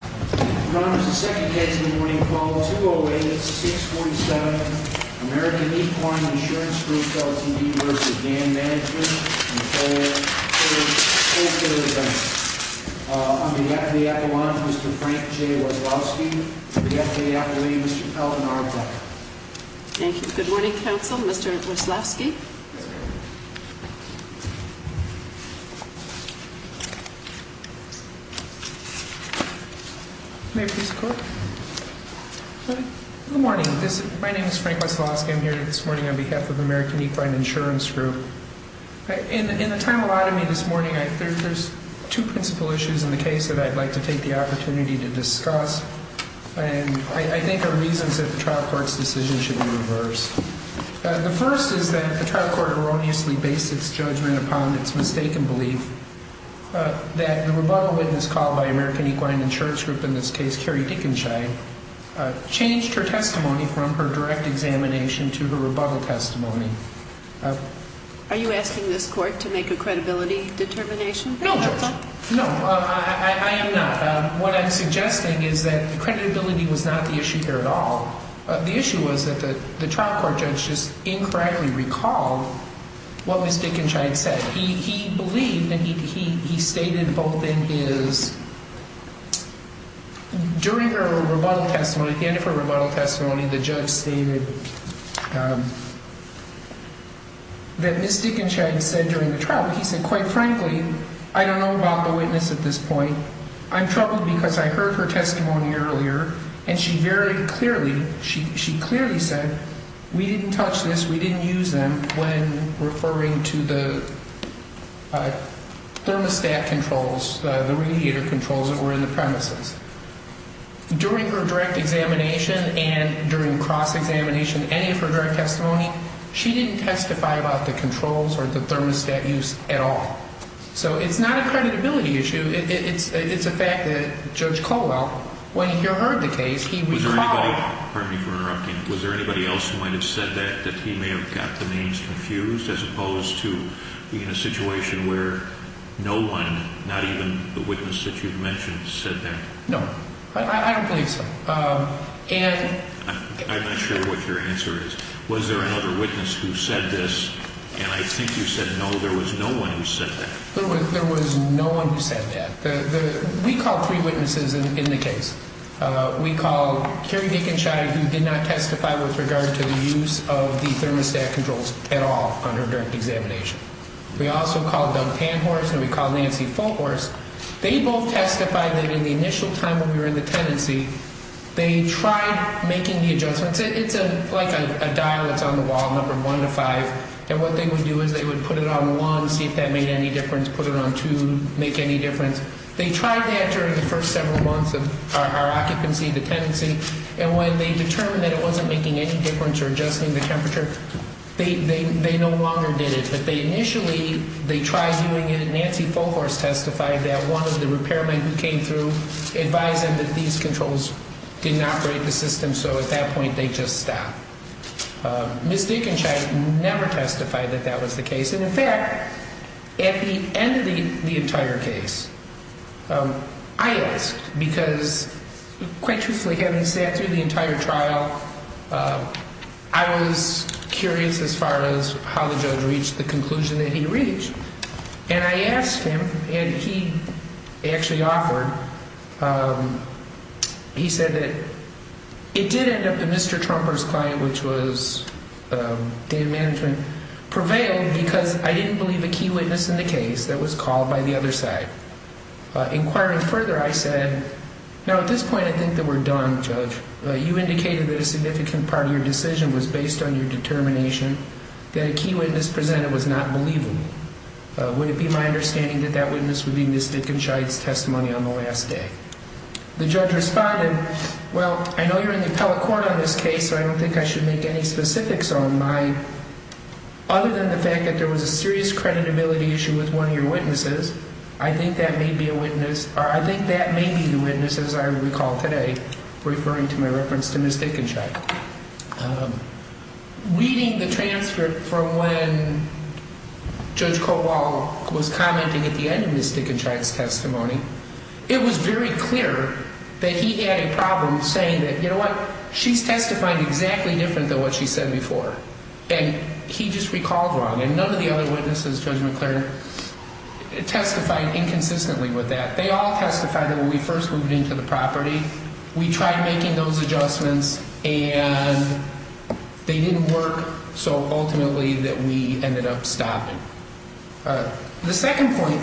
On behalf of the Aquiline, Mr. Frank J. Wyslowski. On behalf of the Aquiline, Mr. Calvin R. Becker. Thank you. Good morning, counsel. Mr. Wyslowski. Good morning. My name is Frank Wyslowski. I'm here this morning on behalf of the American Equine Insurance Group. In the time allotted to me this morning, there's two principal issues in the case that I'd like to take the opportunity to discuss. And I think there are reasons that the trial court's decision should be reversed. The first is that the trial court erroneously based its judgment upon its mistaken belief that the rebuttal witness called by American Equine Insurance Group, in this case Carrie Dickenshine, changed her testimony from her direct examination to her rebuttal testimony. Are you asking this court to make a credibility determination? No, Judge. No, I am not. What I'm suggesting is that the credibility was not the issue here at all. The issue was that the trial court judge just incorrectly recalled what Ms. Dickenshine said. He believed, and he stated both in his, during her rebuttal testimony, the end of her rebuttal testimony, the judge stated that Ms. Dickenshine said during the trial, he said, quite frankly, I don't know about the witness at this point. I'm troubled because I heard her testimony earlier, and she very clearly, she clearly said, we didn't touch this, we didn't use them when referring to the thermostat controls, the radiator controls that were in the premises. During her direct examination and during cross-examination, any of her direct testimony, she didn't testify about the controls or the thermostat use at all. So it's not a credibility issue. It's a fact that Judge Colwell, when he heard the case, he recalled. Was there anybody else who might have said that, that he may have got the names confused, as opposed to being in a situation where no one, not even the witness that you've mentioned, said that? No, I don't believe so. I'm not sure what your answer is. Was there another witness who said this? And I think you said no, there was no one who said that. There was no one who said that. We call three witnesses in the case. We call Kerry Dickenshine, who did not testify with regard to the use of the thermostat controls at all on her direct examination. We also called Doug Panhorst and we called Nancy Fulhorst. They both testified that in the initial time when we were in the tenancy, they tried making the adjustments. It's like a dial that's on the wall, number one to five. And what they would do is they would put it on one, see if that made any difference, put it on two, make any difference. They tried that during the first several months of our occupancy, the tenancy. And when they determined that it wasn't making any difference or adjusting the temperature, they no longer did it. But they initially, they tried doing it and Nancy Fulhorst testified that one of the repairmen who came through advised them that these controls didn't operate the system. So at that point, they just stopped. Ms. Dickenshine never testified that that was the case. And in fact, at the end of the entire case, I asked because quite truthfully, having sat through the entire trial, I was curious as far as how the judge reached the conclusion that he reached. And I asked him and he actually offered. He said that it did end up that Mr. Trumper's client, which was data management, prevailed because I didn't believe a key witness in the case that was called by the other side. Inquiring further, I said, no, at this point, I think that we're done, Judge. You indicated that a significant part of your decision was based on your determination that a key witness presented was not believable. Would it be my understanding that that witness would be Ms. Dickenshine's testimony on the last day? The judge responded, well, I know you're in the appellate court on this case, so I don't think I should make any specifics on mine. Other than the fact that there was a serious credibility issue with one of your witnesses, I think that may be a witness or I think that may be the witness, as I recall today, referring to my reference to Ms. Dickenshine. Reading the transcript from when Judge Cobol was commenting at the end of Ms. Dickenshine's testimony, it was very clear that he had a problem saying that, you know what, she's testifying exactly different than what she said before. And he just recalled wrong. And none of the other witnesses, Judge McClure, testified inconsistently with that. They all testified that when we first moved into the property, we tried making those adjustments and they didn't work. So ultimately that we ended up stopping. The second point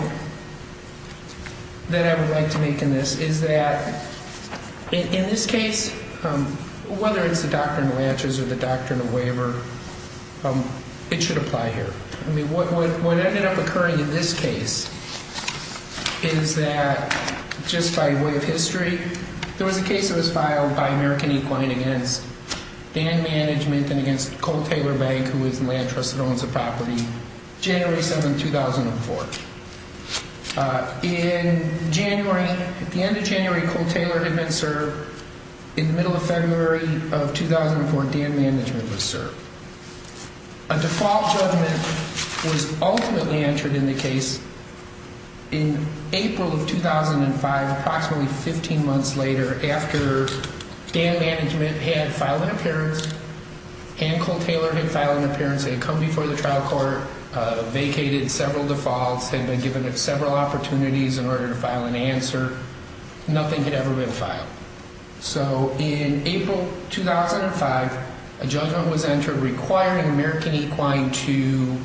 that I would like to make in this is that in this case, whether it's the Doctrine of Lanches or the Doctrine of Waiver, it should apply here. What ended up occurring in this case is that just by way of history, there was a case that was filed by American Equine against Dan Management and against Cole Taylor Bank, who is a land trust that owns the property, January 7, 2004. In January, at the end of January, Cole Taylor had been served. In the middle of February of 2004, Dan Management was served. A default judgment was ultimately entered in the case in April of 2005, approximately 15 months later, after Dan Management had filed an appearance and Cole Taylor had filed an appearance. They had come before the trial court, vacated several defaults, had been given several opportunities in order to file an answer. Nothing had ever been filed. So in April 2005, a judgment was entered requiring American Equine to,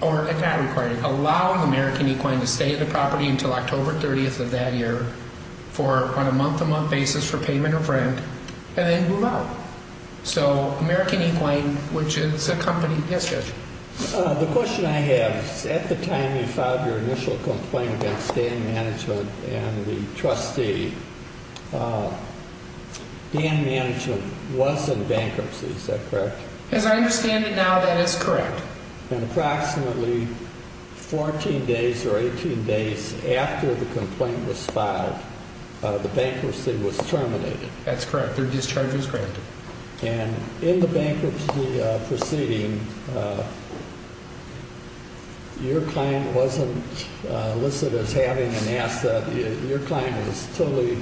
or if not requiring, allowing American Equine to stay at the property until October 30th of that year on a month-to-month basis for payment of rent and then move out. So American Equine, which is a company… Yes, Judge. The question I have is, at the time you filed your initial complaint against Dan Management and the trustee, Dan Management was in bankruptcy, is that correct? As I understand it now, that is correct. And approximately 14 days or 18 days after the complaint was filed, the bankruptcy was terminated. That's correct. Their discharge was granted. And in the bankruptcy proceeding, your client wasn't listed as having an asset. Your client was totally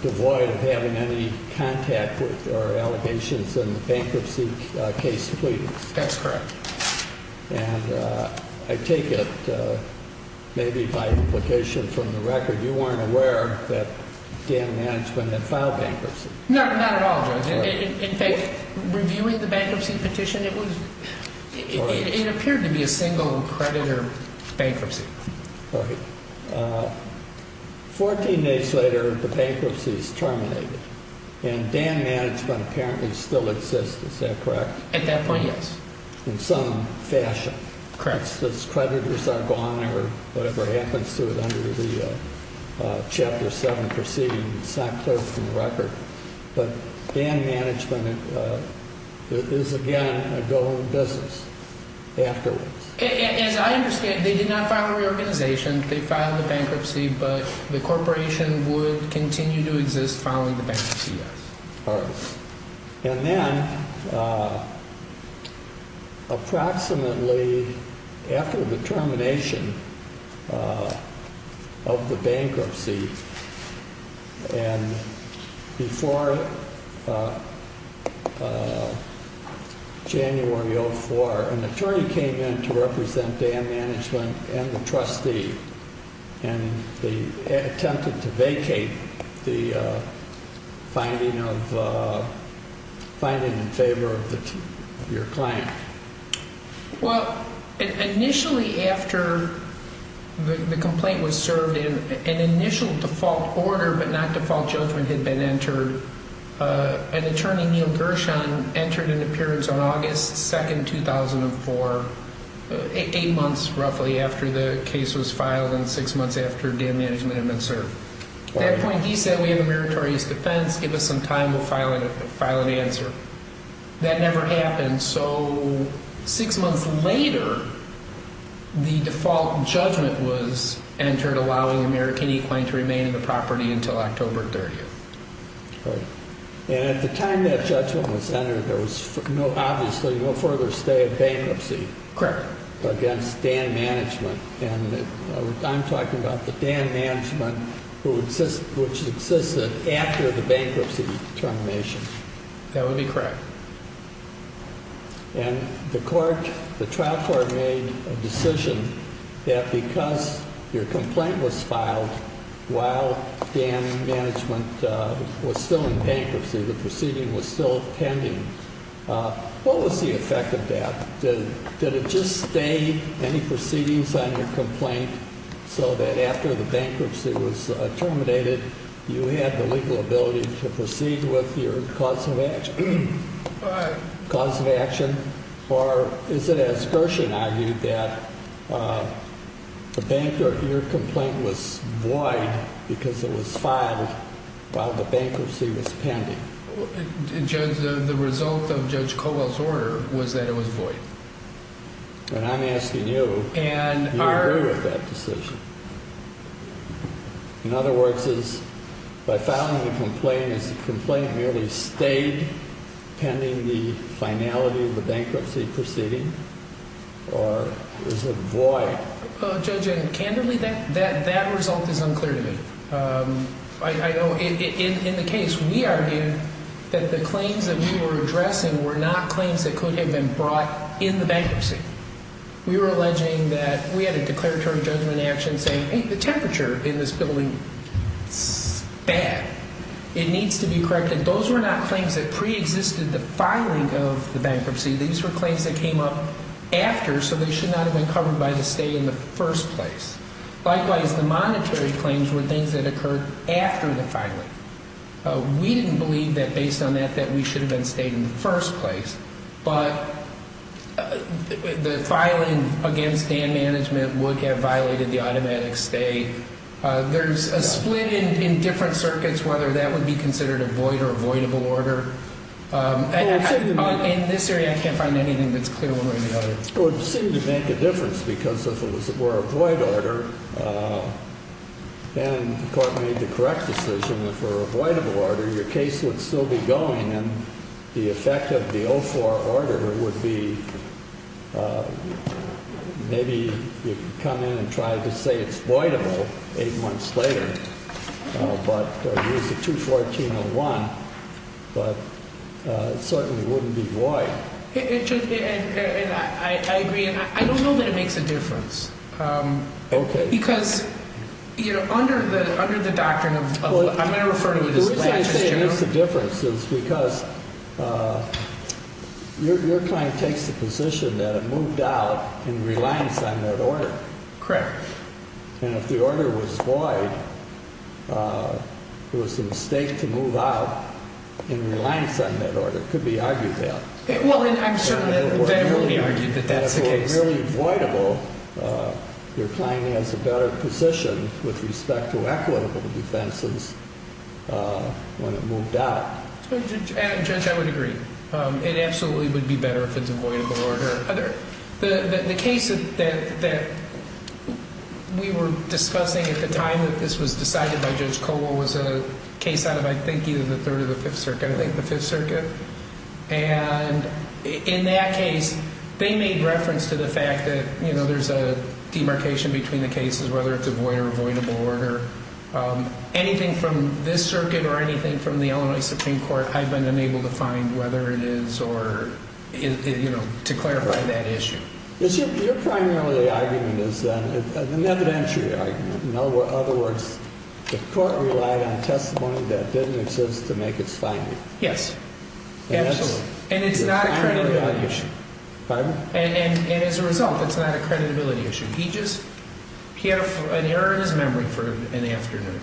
devoid of having any contact or allegations in the bankruptcy case pleading. That's correct. And I take it, maybe by implication from the record, you weren't aware that Dan Management had filed bankruptcy. No, not at all, Judge. In fact, reviewing the bankruptcy petition, it appeared to be a single creditor bankruptcy. Right. 14 days later, the bankruptcy is terminated and Dan Management apparently still exists, is that correct? At that point, yes. In some fashion. Correct. Creditors are gone or whatever happens to it under the Chapter 7 proceeding. It's not clear from the record. But Dan Management is again a go-home business afterwards. As I understand, they did not file a reorganization. They filed the bankruptcy, but the corporation would continue to exist following the bankruptcy, yes. And then approximately after the termination of the bankruptcy and before January 04, an attorney came in to represent Dan Management and the trustee and attempted to vacate the finding in favor of your client. Well, initially after the complaint was served, an initial default order but not default judgment had been entered. An attorney, Neil Gershon, entered an appearance on August 2, 2004, eight months roughly after the case was filed and six months after Dan Management had been served. At that point, he said, we have a meritorious defense. Give us some time. We'll file an answer. That never happened, so six months later, the default judgment was entered allowing American E-Claim to remain in the property until October 30. And at the time that judgment was entered, there was obviously no further stay of bankruptcy. Correct. Against Dan Management. And I'm talking about the Dan Management, which existed after the bankruptcy termination. That would be correct. And the court, the trial court made a decision that because your complaint was filed while Dan Management was still in bankruptcy, the proceeding was still pending. What was the effect of that? Did it just stay any proceedings on your complaint so that after the bankruptcy was terminated, you had the legal ability to proceed with your cause of action? Cause of action. Or is it as Gershon argued that your complaint was void because it was filed while the bankruptcy was pending? Judge, the result of Judge Colwell's order was that it was void. And I'm asking you, do you agree with that decision? In other words, is by filing a complaint, is the complaint merely stayed pending the finality of the bankruptcy proceeding? Or is it void? Judge, candidly, that result is unclear to me. In the case, we argued that the claims that we were addressing were not claims that could have been brought in the bankruptcy. We were alleging that we had a declaratory judgment action saying, hey, the temperature in this building is bad. It needs to be corrected. Those were not claims that preexisted the filing of the bankruptcy. These were claims that came up after, so they should not have been covered by the stay in the first place. Likewise, the monetary claims were things that occurred after the filing. We didn't believe that based on that, that we should have been stayed in the first place. But the filing against Dan Management would have violated the automatic stay. There's a split in different circuits whether that would be considered a void or avoidable order. In this area, I can't find anything that's clear one way or the other. It would seem to make a difference because if it were a void order and the court made the correct decision for a voidable order, your case would still be going and the effect of the 0-4 order would be maybe you could come in and try to say it's voidable eight months later. But there's a 2-14-01, but it certainly wouldn't be void. I agree, and I don't know that it makes a difference. Okay. Because under the doctrine of, I'm not referring to the disclosures. The reason I say it makes a difference is because your client takes the position that it moved out in reliance on that order. Correct. And if the order was void, it was a mistake to move out in reliance on that order. It could be argued that. Well, I'm certain that it would be argued that that's the case. If it were really voidable, your client has a better position with respect to equitable defenses when it moved out. Judge, I would agree. It absolutely would be better if it's a voidable order. The case that we were discussing at the time that this was decided by Judge Coble was a case out of, I think, either the Third or the Fifth Circuit, I think the Fifth Circuit. And in that case, they made reference to the fact that there's a demarcation between the cases, whether it's a void or a voidable order. Anything from this circuit or anything from the Illinois Supreme Court, I've been unable to find whether it is or, you know, to clarify that issue. Your primary argument is an evidentiary argument. In other words, the court relied on testimony that didn't exist to make its finding. Yes. Absolutely. And it's not a creditability issue. Pardon? And as a result, it's not a creditability issue. He just, he had an error in his memory for an afternoon.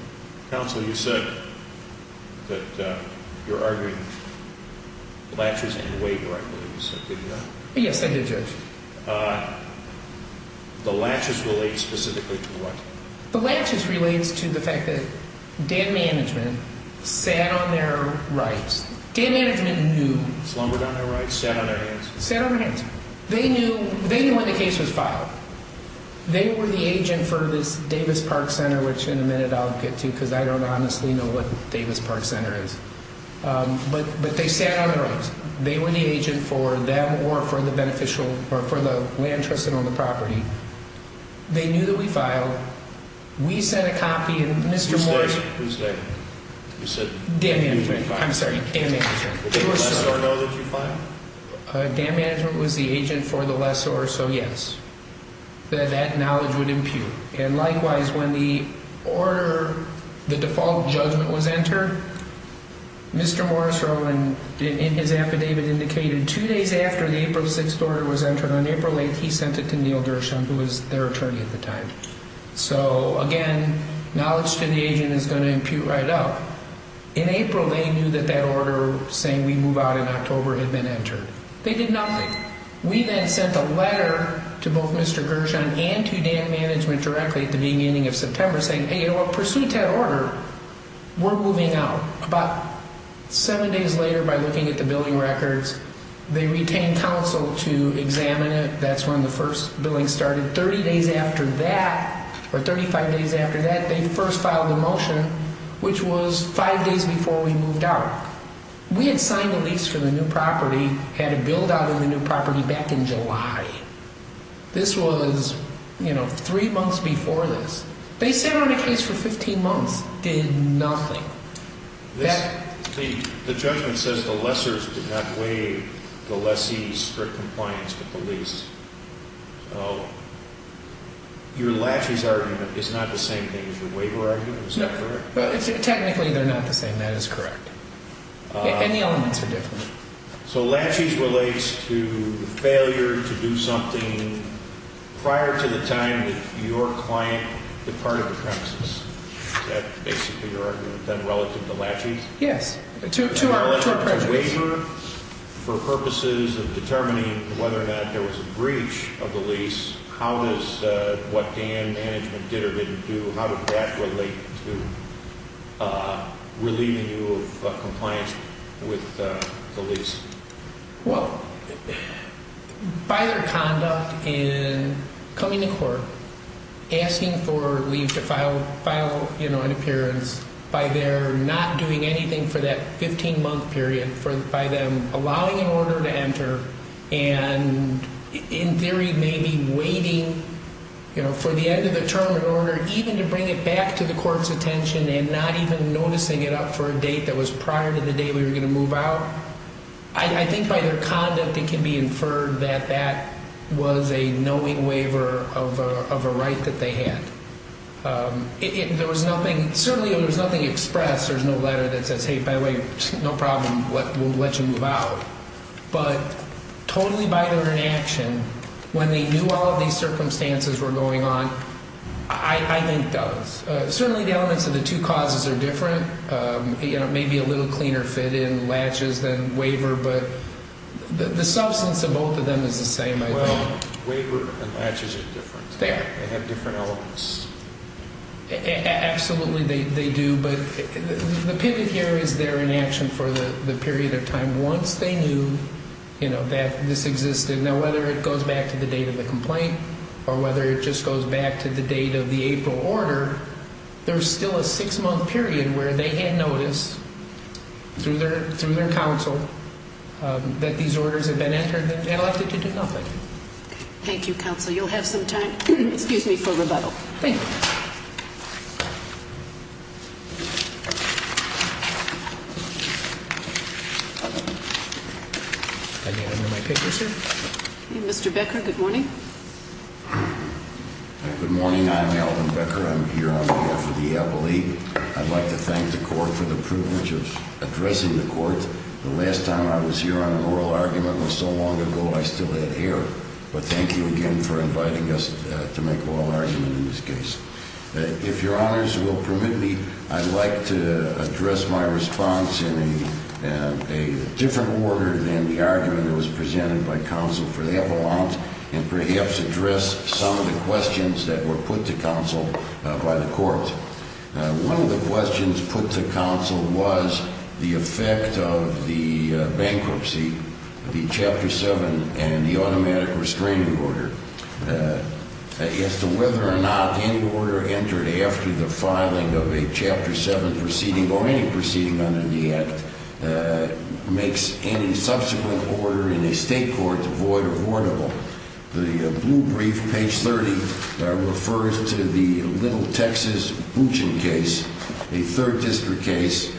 Counsel, you said that you're arguing the latches and the waiver, I believe you said, did you not? Yes, I did, Judge. The latches relate specifically to what? The latches relates to the fact that Dan Management sat on their rights. Dan Management knew. Slumbered on their rights, sat on their hands. Sat on their hands. They knew, they knew when the case was filed. They were the agent for this Davis Park Center, which in a minute I'll get to because I don't honestly know what Davis Park Center is. But they sat on their rights. They were the agent for them or for the beneficial or for the land trusted on the property. They knew that we filed. We sent a copy and Mr. Morris. Who's Dan? Who's Dan? Dan Management. I'm sorry, Dan Management. Did the lessor know that you filed? Dan Management was the agent for the lessor, so yes. That knowledge would impute. And likewise, when the order, the default judgment was entered, Mr. Morris Rowland in his affidavit indicated two days after the April 6th order was entered on April 8th, he sent it to Neil Gershon, who was their attorney at the time. So again, knowledge to the agent is going to impute right up. In April, they knew that that order saying we move out in October had been entered. They did nothing. We then sent a letter to both Mr. Gershon and to Dan Management directly at the beginning of September saying, hey, in pursuit of that order, we're moving out. About seven days later, by looking at the billing records, they retained counsel to examine it. That's when the first billing started. 30 days after that, or 35 days after that, they first filed a motion, which was five days before we moved out. We had signed a lease for the new property, had a build out of the new property back in July. This was, you know, three months before this. They sat on a case for 15 months, did nothing. The judgment says the lessors did not waive the lessee's strict compliance with the lease. So your laches argument is not the same thing as your waiver argument, is that correct? Technically, they're not the same. That is correct. Any elements are different. So laches relates to failure to do something prior to the time that your client departed the premises. Is that basically your argument, then, relative to laches? Yes, to our prejudice. Relative to waiver, for purposes of determining whether or not there was a breach of the lease, how does what Dan Management did or didn't do, how does that relate to relieving you of compliance with the lease? Well, by their conduct in coming to court, asking for leave to file an appearance, by their not doing anything for that 15-month period, by them allowing an order to enter, and in theory maybe waiting for the end of the term in order even to bring it back to the court's attention and not even noticing it up for a date that was prior to the day we were going to move out, I think by their conduct it can be inferred that that was a knowing waiver of a right that they had. There was nothing, certainly there was nothing expressed. There was no letter that says, hey, by the way, no problem, we'll let you move out. But totally by their inaction, when they knew all of these circumstances were going on, I think does. Certainly the elements of the two causes are different. It may be a little cleaner fit in latches than waiver, but the substance of both of them is the same, I think. Well, waiver and latches are different. They are. They have different elements. Absolutely they do, but the pivot here is their inaction for the period of time once they knew that this existed. Now, whether it goes back to the date of the complaint or whether it just goes back to the date of the April order, there's still a six-month period where they had noticed through their counsel that these orders had been entered that they had elected to do nothing. Thank you, counsel. You'll have some time for rebuttal. Thank you. Mr. Becker, good morning. Good morning. I'm Alvin Becker. I'm here on behalf of the Apple League. I'd like to thank the court for the privilege of addressing the court. The last time I was here on an oral argument was so long ago I still had hair. But thank you again for inviting us to make an oral argument in this case. If your honors will permit me, I'd like to address my response in a different order than the argument that was presented by counsel for the epilogue and perhaps address some of the questions that were put to counsel by the court. One of the questions put to counsel was the effect of the bankruptcy, the Chapter 7, and the automatic restraining order. As to whether or not any order entered after the filing of a Chapter 7 proceeding or any proceeding under the Act makes any subsequent order in a state court void or voidable. The blue brief, page 30, refers to the Little Texas Bouchon case, a third district case,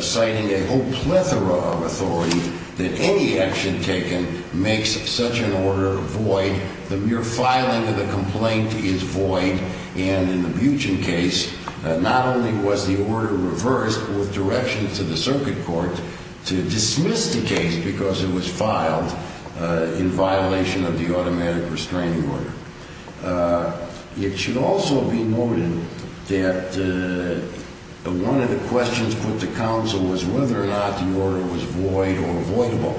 citing a whole plethora of authority that any action taken makes such an order void. The mere filing of the complaint is void. And in the Bouchon case, not only was the order reversed with direction to the circuit court to dismiss the case because it was filed in violation of the automatic restraining order. It should also be noted that one of the questions put to counsel was whether or not the order was void or voidable.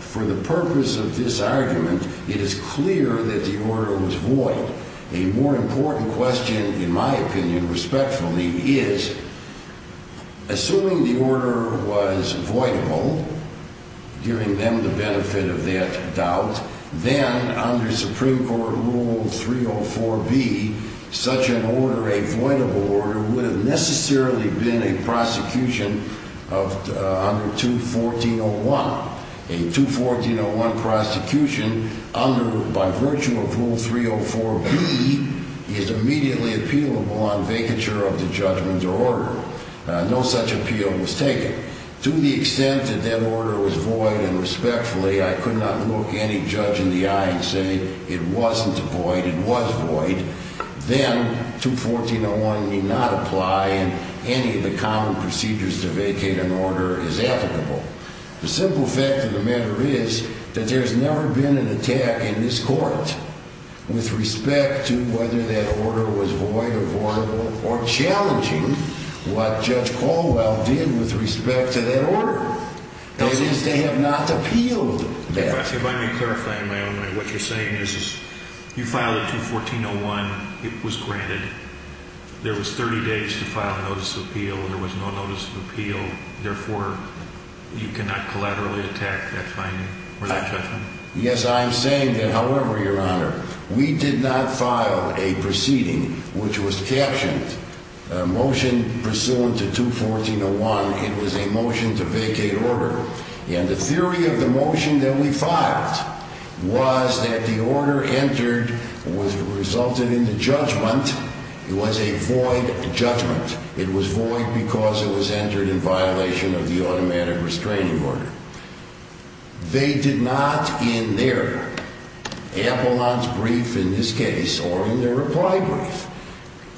For the purpose of this argument, it is clear that the order was void. A more important question, in my opinion, respectfully, is assuming the order was voidable, giving them the benefit of that doubt, then under Supreme Court Rule 304B, such an order, a voidable order, would have necessarily been a prosecution under 214.01. A 214.01 prosecution under, by virtue of Rule 304B, is immediately appealable on vacature of the judgment or order. To the extent that that order was void and respectfully, I could not look any judge in the eye and say it wasn't a void, it was void. Then 214.01 need not apply and any of the common procedures to vacate an order is applicable. The simple fact of the matter is that there's never been an attack in this court with respect to whether that order was void or voidable or challenging what Judge Caldwell did with respect to that order. It is to have not appealed that. If I may clarify in my own way, what you're saying is you filed a 214.01. It was granted. There was 30 days to file a notice of appeal. There was no notice of appeal. Therefore, you cannot collaterally attack that finding or that judgment? Yes, I'm saying that, however, Your Honor, we did not file a proceeding which was captioned motion pursuant to 214.01. It was a motion to vacate order. And the theory of the motion that we filed was that the order entered was resulted in the judgment. It was a void judgment. It was void because it was entered in violation of the automatic restraining order. They did not in their appellant's brief in this case or in their reply brief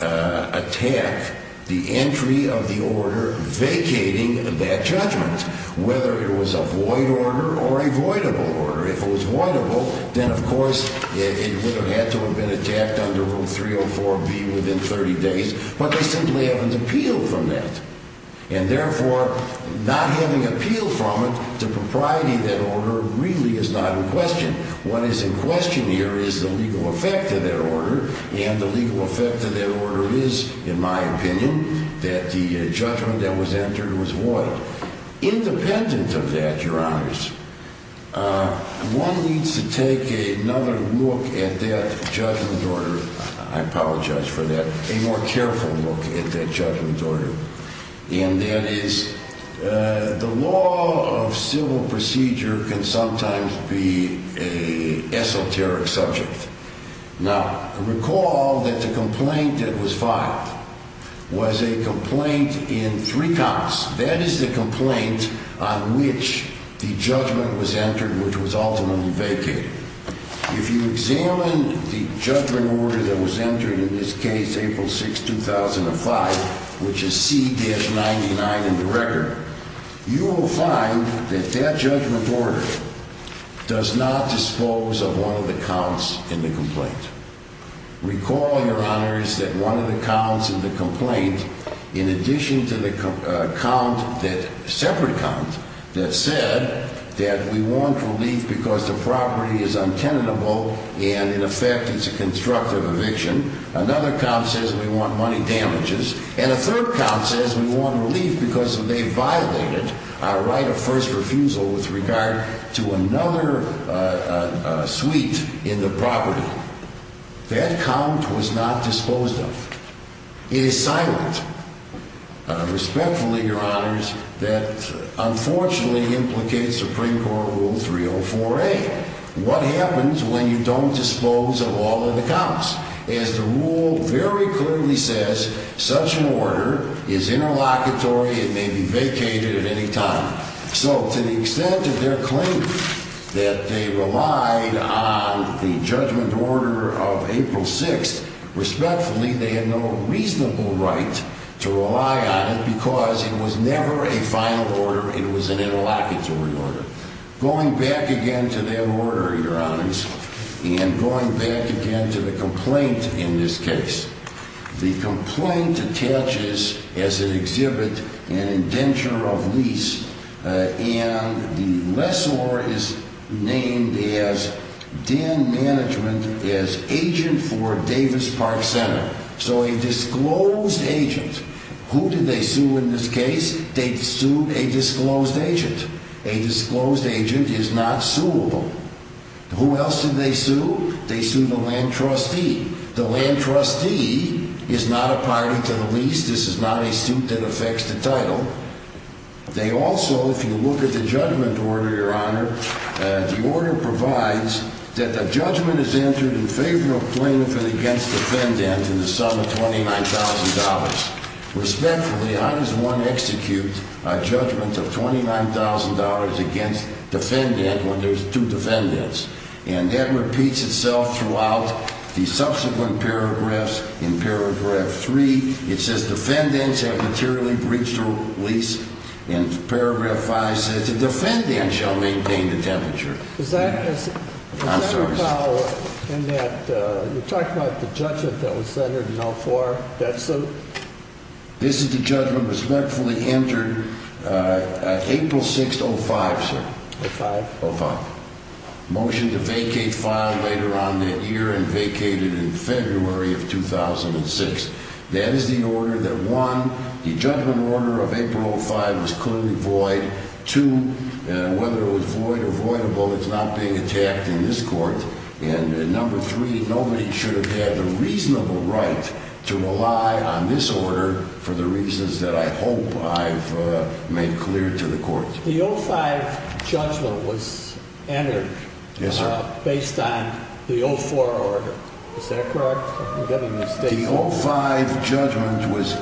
attack the entry of the order vacating that judgment, whether it was a void order or a voidable order. If it was voidable, then, of course, it would have had to have been attacked under Rule 304B within 30 days. But they simply haven't appealed from that. And, therefore, not having appealed from it, the propriety of that order really is not in question. What is in question here is the legal effect of that order. And the legal effect of that order is, in my opinion, that the judgment that was entered was void. Independent of that, Your Honors, one needs to take another look at that judgment order. I apologize for that. A more careful look at that judgment order. And that is the law of civil procedure can sometimes be an esoteric subject. Now, recall that the complaint that was filed was a complaint in three counts. That is the complaint on which the judgment was entered, which was ultimately vacated. If you examine the judgment order that was entered in this case, April 6, 2005, which is C-99 in the record, you will find that that judgment order does not dispose of one of the counts in the complaint. Recall, Your Honors, that one of the counts in the complaint, in addition to the count, that separate count that said that we want relief because the property is untenable and, in effect, it's a constructive eviction. Another count says we want money damages. And a third count says we want relief because they violated our right of first refusal with regard to another suite in the property. That count was not disposed of. It is silent. Respectfully, Your Honors, that unfortunately implicates Supreme Court Rule 304A. What happens when you don't dispose of all of the counts? As the rule very clearly says, such an order is interlocutory. It may be vacated at any time. So to the extent of their claim that they relied on the judgment order of April 6, respectfully, they had no reasonable right to rely on it because it was never a final order. It was an interlocutory order. Going back again to that order, Your Honors, and going back again to the complaint in this case, the complaint attaches as an exhibit an indenture of lease, and the lessor is named as Dan Management as agent for Davis Park Center. So a disclosed agent. Who did they sue in this case? They sued a disclosed agent. A disclosed agent is not suable. Who else did they sue? They sued a land trustee. The land trustee is not a party to the lease. This is not a suit that affects the title. They also, if you look at the judgment order, Your Honor, the order provides that the judgment is entered in favor of plaintiff and against defendant in the sum of $29,000. Respectfully, I as one execute a judgment of $29,000 against defendant when there's two defendants. And that repeats itself throughout the subsequent paragraphs. In paragraph 3, it says defendants have materially breached a lease. And paragraph 5 says the defendant shall maintain the temperature. Is that a foul in that you talked about the judgment that was entered in 04, that suit? This is the judgment respectfully entered April 6, 05, sir. 05? 05. Motion to vacate file later on that year and vacated in February of 2006. That is the order that, one, the judgment order of April 05 was clearly void. Two, whether it was void or voidable, it's not being attacked in this court. And number three, nobody should have had the reasonable right to rely on this order for the reasons that I hope I've made clear to the court. The 05 judgment was entered based on the 04 order. Is that correct? The 05 judgment was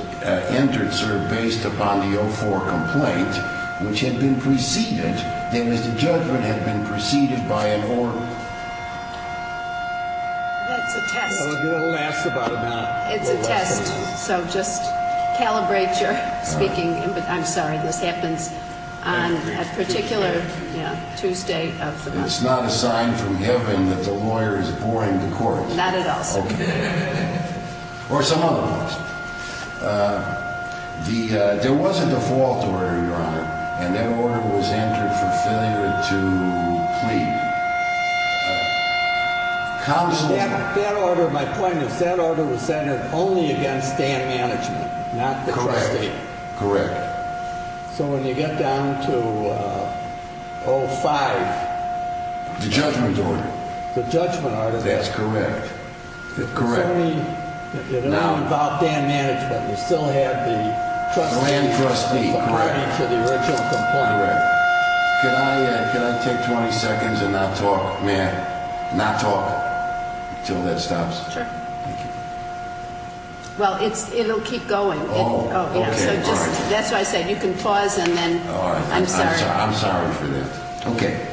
entered, sir, based upon the 04 complaint, which had been preceded. The judgment had been preceded by an order. That's a test. It'll last about a minute. It's a test. So just calibrate your speaking. I'm sorry. This happens on a particular Tuesday of the month. It's not a sign from heaven that the lawyer is boring the court. Not at all, sir. Okay. Or some other person. There was a default order, Your Honor, and that order was entered for failure to plead. Counsel. That order, my point is, that order was entered only against dam management, not the court. Correct. Correct. So when you get down to 05. The judgment order. The judgment order. That's correct. Correct. You're now involved in dam management. You still have the trustee. The land trustee. Correct. According to the original complaint. Correct. Can I take 20 seconds and not talk? May I not talk until that stops? Sure. Thank you. Well, it'll keep going. Oh, okay. That's what I said. You can pause and then. I'm sorry. I'm sorry for that. Okay.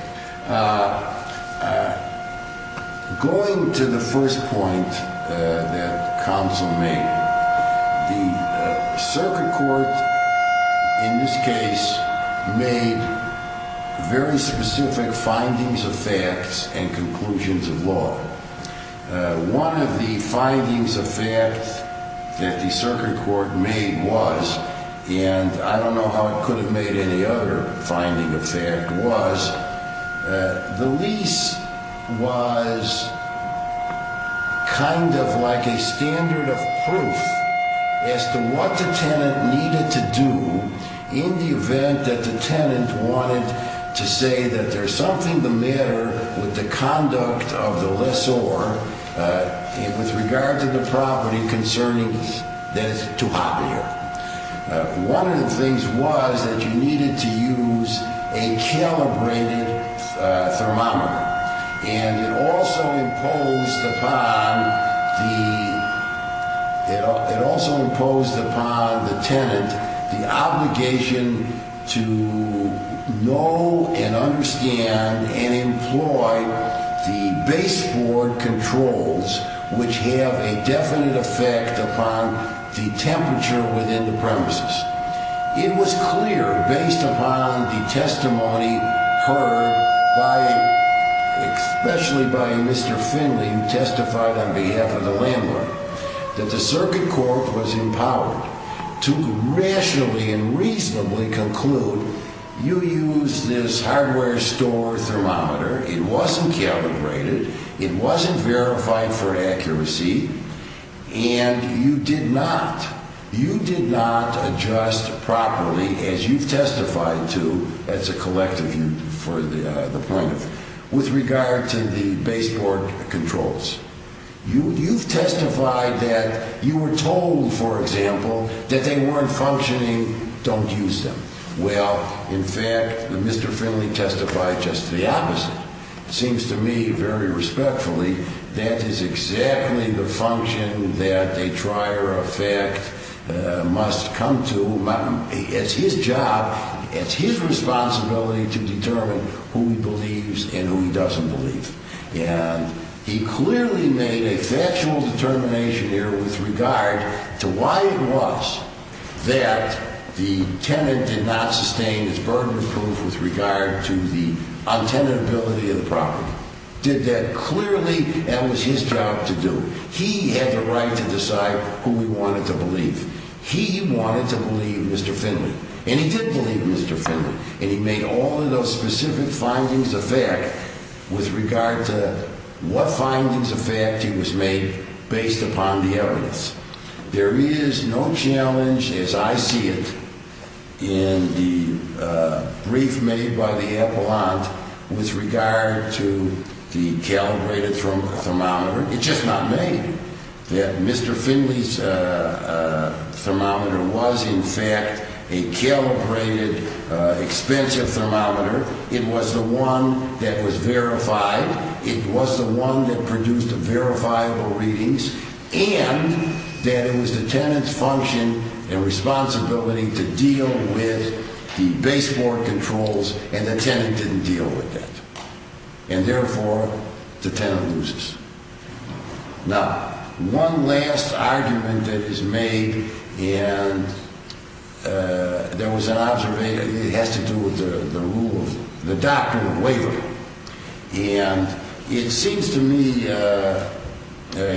Going to the first point that counsel made. The circuit court, in this case, made very specific findings of facts and conclusions of law. One of the findings of facts that the circuit court made was, and I don't know how it could have made any other finding of fact was, the lease was kind of like a standard of proof as to what the tenant needed to do in the event that the tenant wanted to say that there's something the matter with the conduct of the lessor with regard to the property concerning that it's too hot in here. One of the things was that you needed to use a calibrated thermometer. And it also imposed upon the tenant the obligation to know and understand and employ the baseboard controls, which have a definite effect upon the temperature within the premises. It was clear, based upon the testimony heard, especially by Mr. Finley, who testified on behalf of the landlord, that the circuit court was empowered to rationally and reasonably conclude, you used this hardware store thermometer, it wasn't calibrated, it wasn't verified for accuracy, and you did not. You did not adjust properly, as you've testified to as a collective, with regard to the baseboard controls. You've testified that you were told, for example, that they weren't functioning, don't use them. Well, in fact, Mr. Finley testified just the opposite. It seems to me very respectfully that is exactly the function that a trier of fact must come to. It's his job, it's his responsibility to determine who he believes and who he doesn't believe. And he clearly made a factual determination here with regard to why it was that the tenant did not sustain his burden of proof with regard to the untenability of the property. Did that clearly, that was his job to do. He had the right to decide who he wanted to believe. He wanted to believe Mr. Finley, and he did believe Mr. Finley, and he made all of those specific findings of fact with regard to what findings of fact he was made based upon the evidence. There is no challenge, as I see it, in the brief made by the appellant with regard to the calibrated thermometer. It's just not made that Mr. Finley's thermometer was, in fact, a calibrated expensive thermometer. It was the one that was verified. It was the one that produced verifiable readings, and that it was the tenant's function and responsibility to deal with the baseboard controls, and the tenant didn't deal with that. And therefore, the tenant loses. Now, one last argument that is made, and there was an observation, it has to do with the rule, the doctrine of waiver. And it seems to me,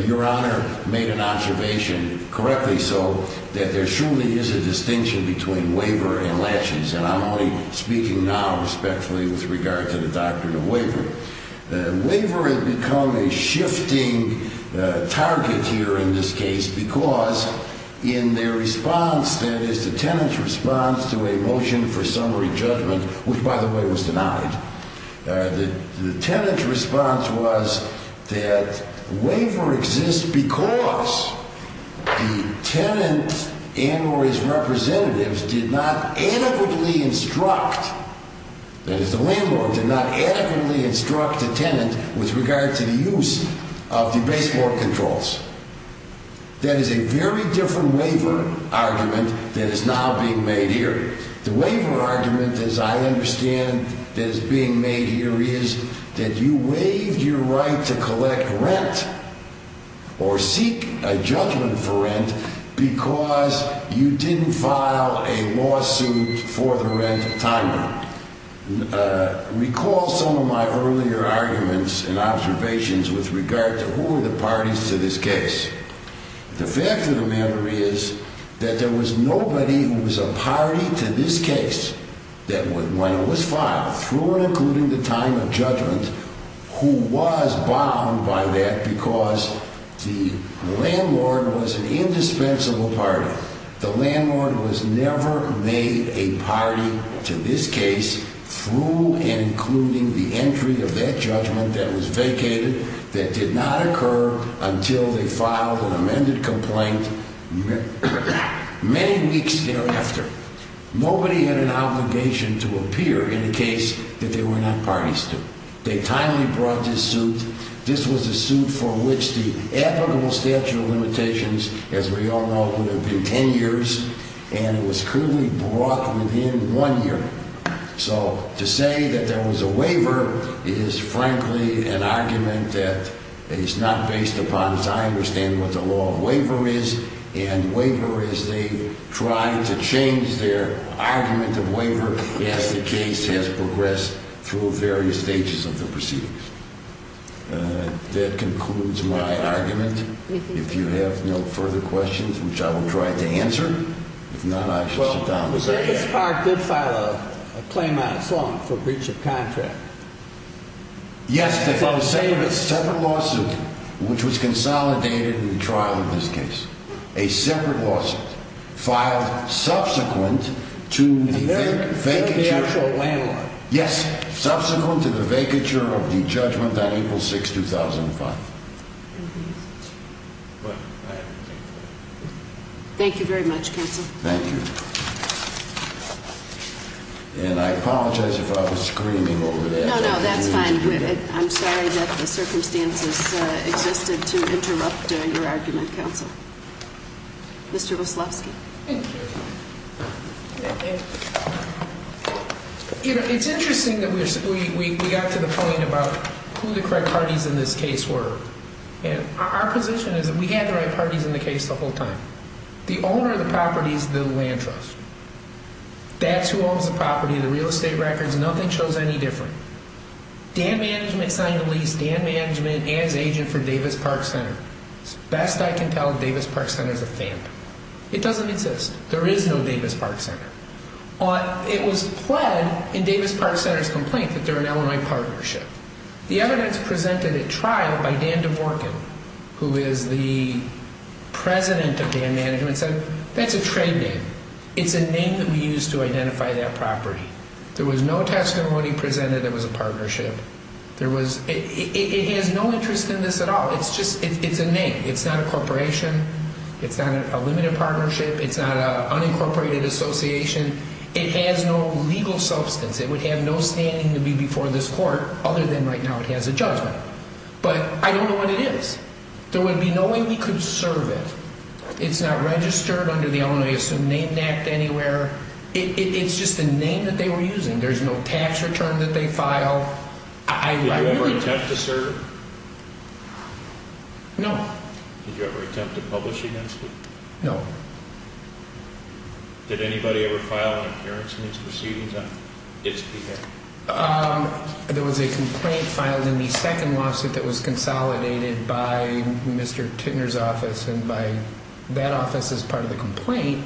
Your Honor, made an observation, correctly so, that there surely is a distinction between waiver and latches. And I'm only speaking now respectfully with regard to the doctrine of waiver. Waiver had become a shifting target here in this case because in their response, that is, the tenant's response to a motion for summary judgment, which, by the way, was denied, the tenant's response was that waiver exists because the tenant and or his representatives did not adequately instruct, that is, the landlord did not adequately instruct the tenant with regard to the use of the baseboard controls. That is a very different waiver argument that is now being made here. The waiver argument, as I understand, that is being made here is that you waived your right to collect rent or seek a judgment for rent because you didn't file a lawsuit for the rent time. Recall some of my earlier arguments and observations with regard to who were the parties to this case. The fact of the matter is that there was nobody who was a party to this case that when it was filed, through and including the time of judgment, who was bound by that because the landlord was an indispensable party. The landlord was never made a party to this case through and including the entry of that judgment that was vacated that did not occur until they filed an amended complaint many weeks thereafter. Nobody had an obligation to appear in a case that they were not parties to. They timely brought this suit. This was a suit for which the applicable statute of limitations, as we all know, would have been ten years, and it was clearly brought within one year. So to say that there was a waiver is frankly an argument that is not based upon, as I understand, what the law of waiver is, and waiver is they try to change their argument of waiver as the case has progressed through various stages of the proceedings. That concludes my argument. If you have no further questions, which I will try to answer, if not, I should sit down. Well, Davis Park did file a claim on its own for breach of contract. Yes, they filed a separate lawsuit, which was consolidated in the trial of this case. A separate lawsuit filed subsequent to the vacature of the judgment on April 6, 2005. Thank you very much, counsel. Thank you. And I apologize if I was screaming over that. No, no, that's fine. I'm sorry that the circumstances existed to interrupt your argument, counsel. Mr. Wyslowski. Thank you. Thank you. You know, it's interesting that we got to the point about who the correct parties in this case were. And our position is that we had the right parties in the case the whole time. The owner of the property is the land trust. That's who owns the property, the real estate records, nothing shows any difference. Dan Management signed the lease. Dan Management is agent for Davis Park Center. Best I can tell, Davis Park Center is a phantom. It doesn't exist. There is no Davis Park Center. It was pled in Davis Park Center's complaint that they're an Illinois partnership. The evidence presented at trial by Dan DeVorkin, who is the president of Dan Management, said that's a trade name. It's a name that we use to identify that property. There was no testimony presented it was a partnership. It has no interest in this at all. It's a name. It's not a corporation. It's not a limited partnership. It's not an unincorporated association. It has no legal substance. It would have no standing to be before this court other than right now it has a judgment. But I don't know what it is. There would be no way we could serve it. It's not registered under the Illinois Assumed Name Act anywhere. It's just a name that they were using. There's no tax return that they file. I really don't know. Did you ever attempt to serve? No. Did you ever attempt to publish against it? No. Did anybody ever file an appearance in its proceedings on its behalf? There was a complaint filed in the second lawsuit that was consolidated by Mr. Tittner's office and by that office as part of the complaint.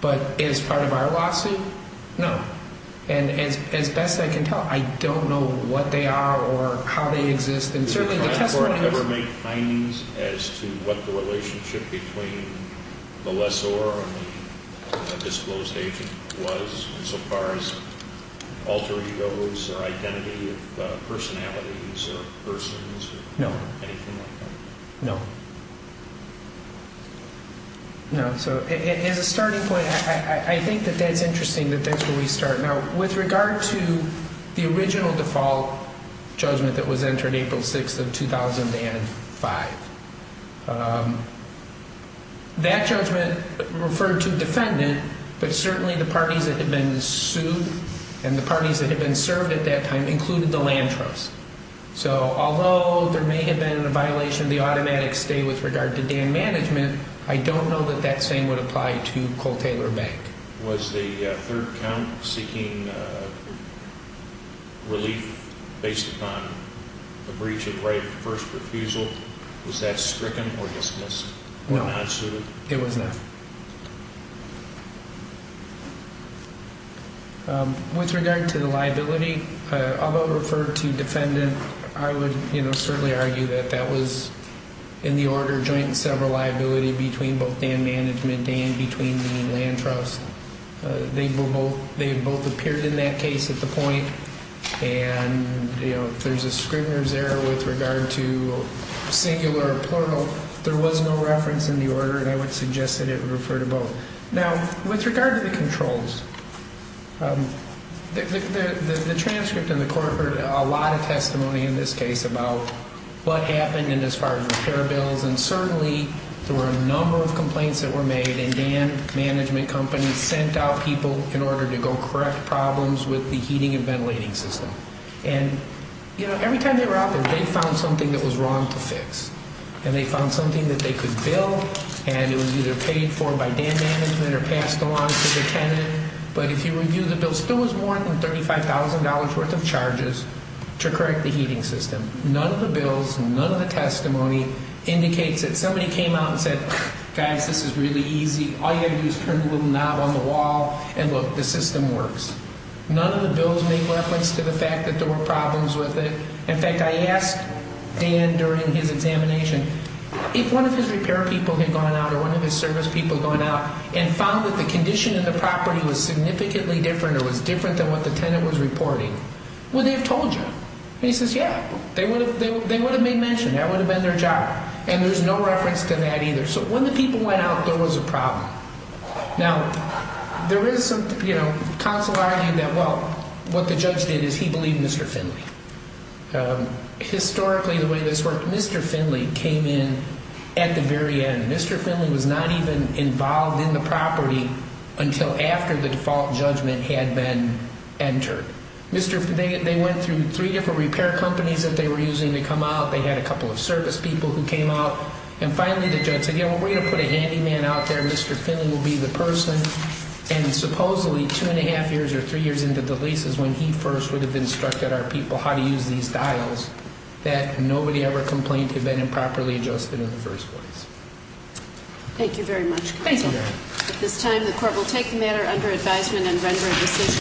But as part of our lawsuit, no. And as best I can tell, I don't know what they are or how they exist. Did you ever make findings as to what the relationship between the lessor and the disclosed agent was so far as alter egos or identity of personalities or persons or anything like that? No. No. No. So as a starting point, I think that that's interesting that that's where we start. Now, with regard to the original default judgment that was entered April 6th of 2005, that judgment referred to defendant, but certainly the parties that had been sued and the parties that had been served at that time included the Lantros. So although there may have been a violation of the automatic stay with regard to dam management, I don't know that that same would apply to Colt Taylor Bank. Was the third count seeking relief based upon a breach of right of first refusal? Was that stricken or dismissed? It was not. With regard to the liability, although it referred to defendant, I would certainly argue that that was in the order joint and several liability between both dam management and between the Lantros. They both appeared in that case at the point. And, you know, there's a Scribner's error with regard to singular or plural. There was no reference in the order, and I would suggest that it would refer to both. Now, with regard to the controls, the transcript in the court heard a lot of testimony in this case about what happened in as far as repair bills. And certainly there were a number of complaints that were made, and dam management companies sent out people in order to go correct problems with the heating and ventilating system. And, you know, every time they were out there, they found something that was wrong to fix. And they found something that they could bill, and it was either paid for by dam management or passed along to the tenant. But if you review the bill, still was more than $35,000 worth of charges to correct the heating system. None of the bills, none of the testimony indicates that somebody came out and said, guys, this is really easy. All you have to do is turn the little knob on the wall and look, the system works. None of the bills make reference to the fact that there were problems with it. In fact, I asked Dan during his examination if one of his repair people had gone out or one of his service people had gone out and found that the condition of the property was significantly different or was different than what the tenant was reporting. Would they have told you? And he says, yeah, they would have made mention. That would have been their job. And there's no reference to that either. So when the people went out, there was a problem. Now, there is some, you know, consularity that, well, what the judge did is he believed Mr. Finley. Historically, the way this worked, Mr. Finley came in at the very end. Mr. Finley was not even involved in the property until after the default judgment had been entered. They went through three different repair companies that they were using to come out. They had a couple of service people who came out. And finally, the judge said, you know, we're going to put a handyman out there. Mr. Finley will be the person. And supposedly, two and a half years or three years into the leases, when he first would have instructed our people how to use these dials, that nobody ever complained had been improperly adjusted in the first place. Thank you very much. Thank you. At this time, the court will take the matter under advisement and render a decision.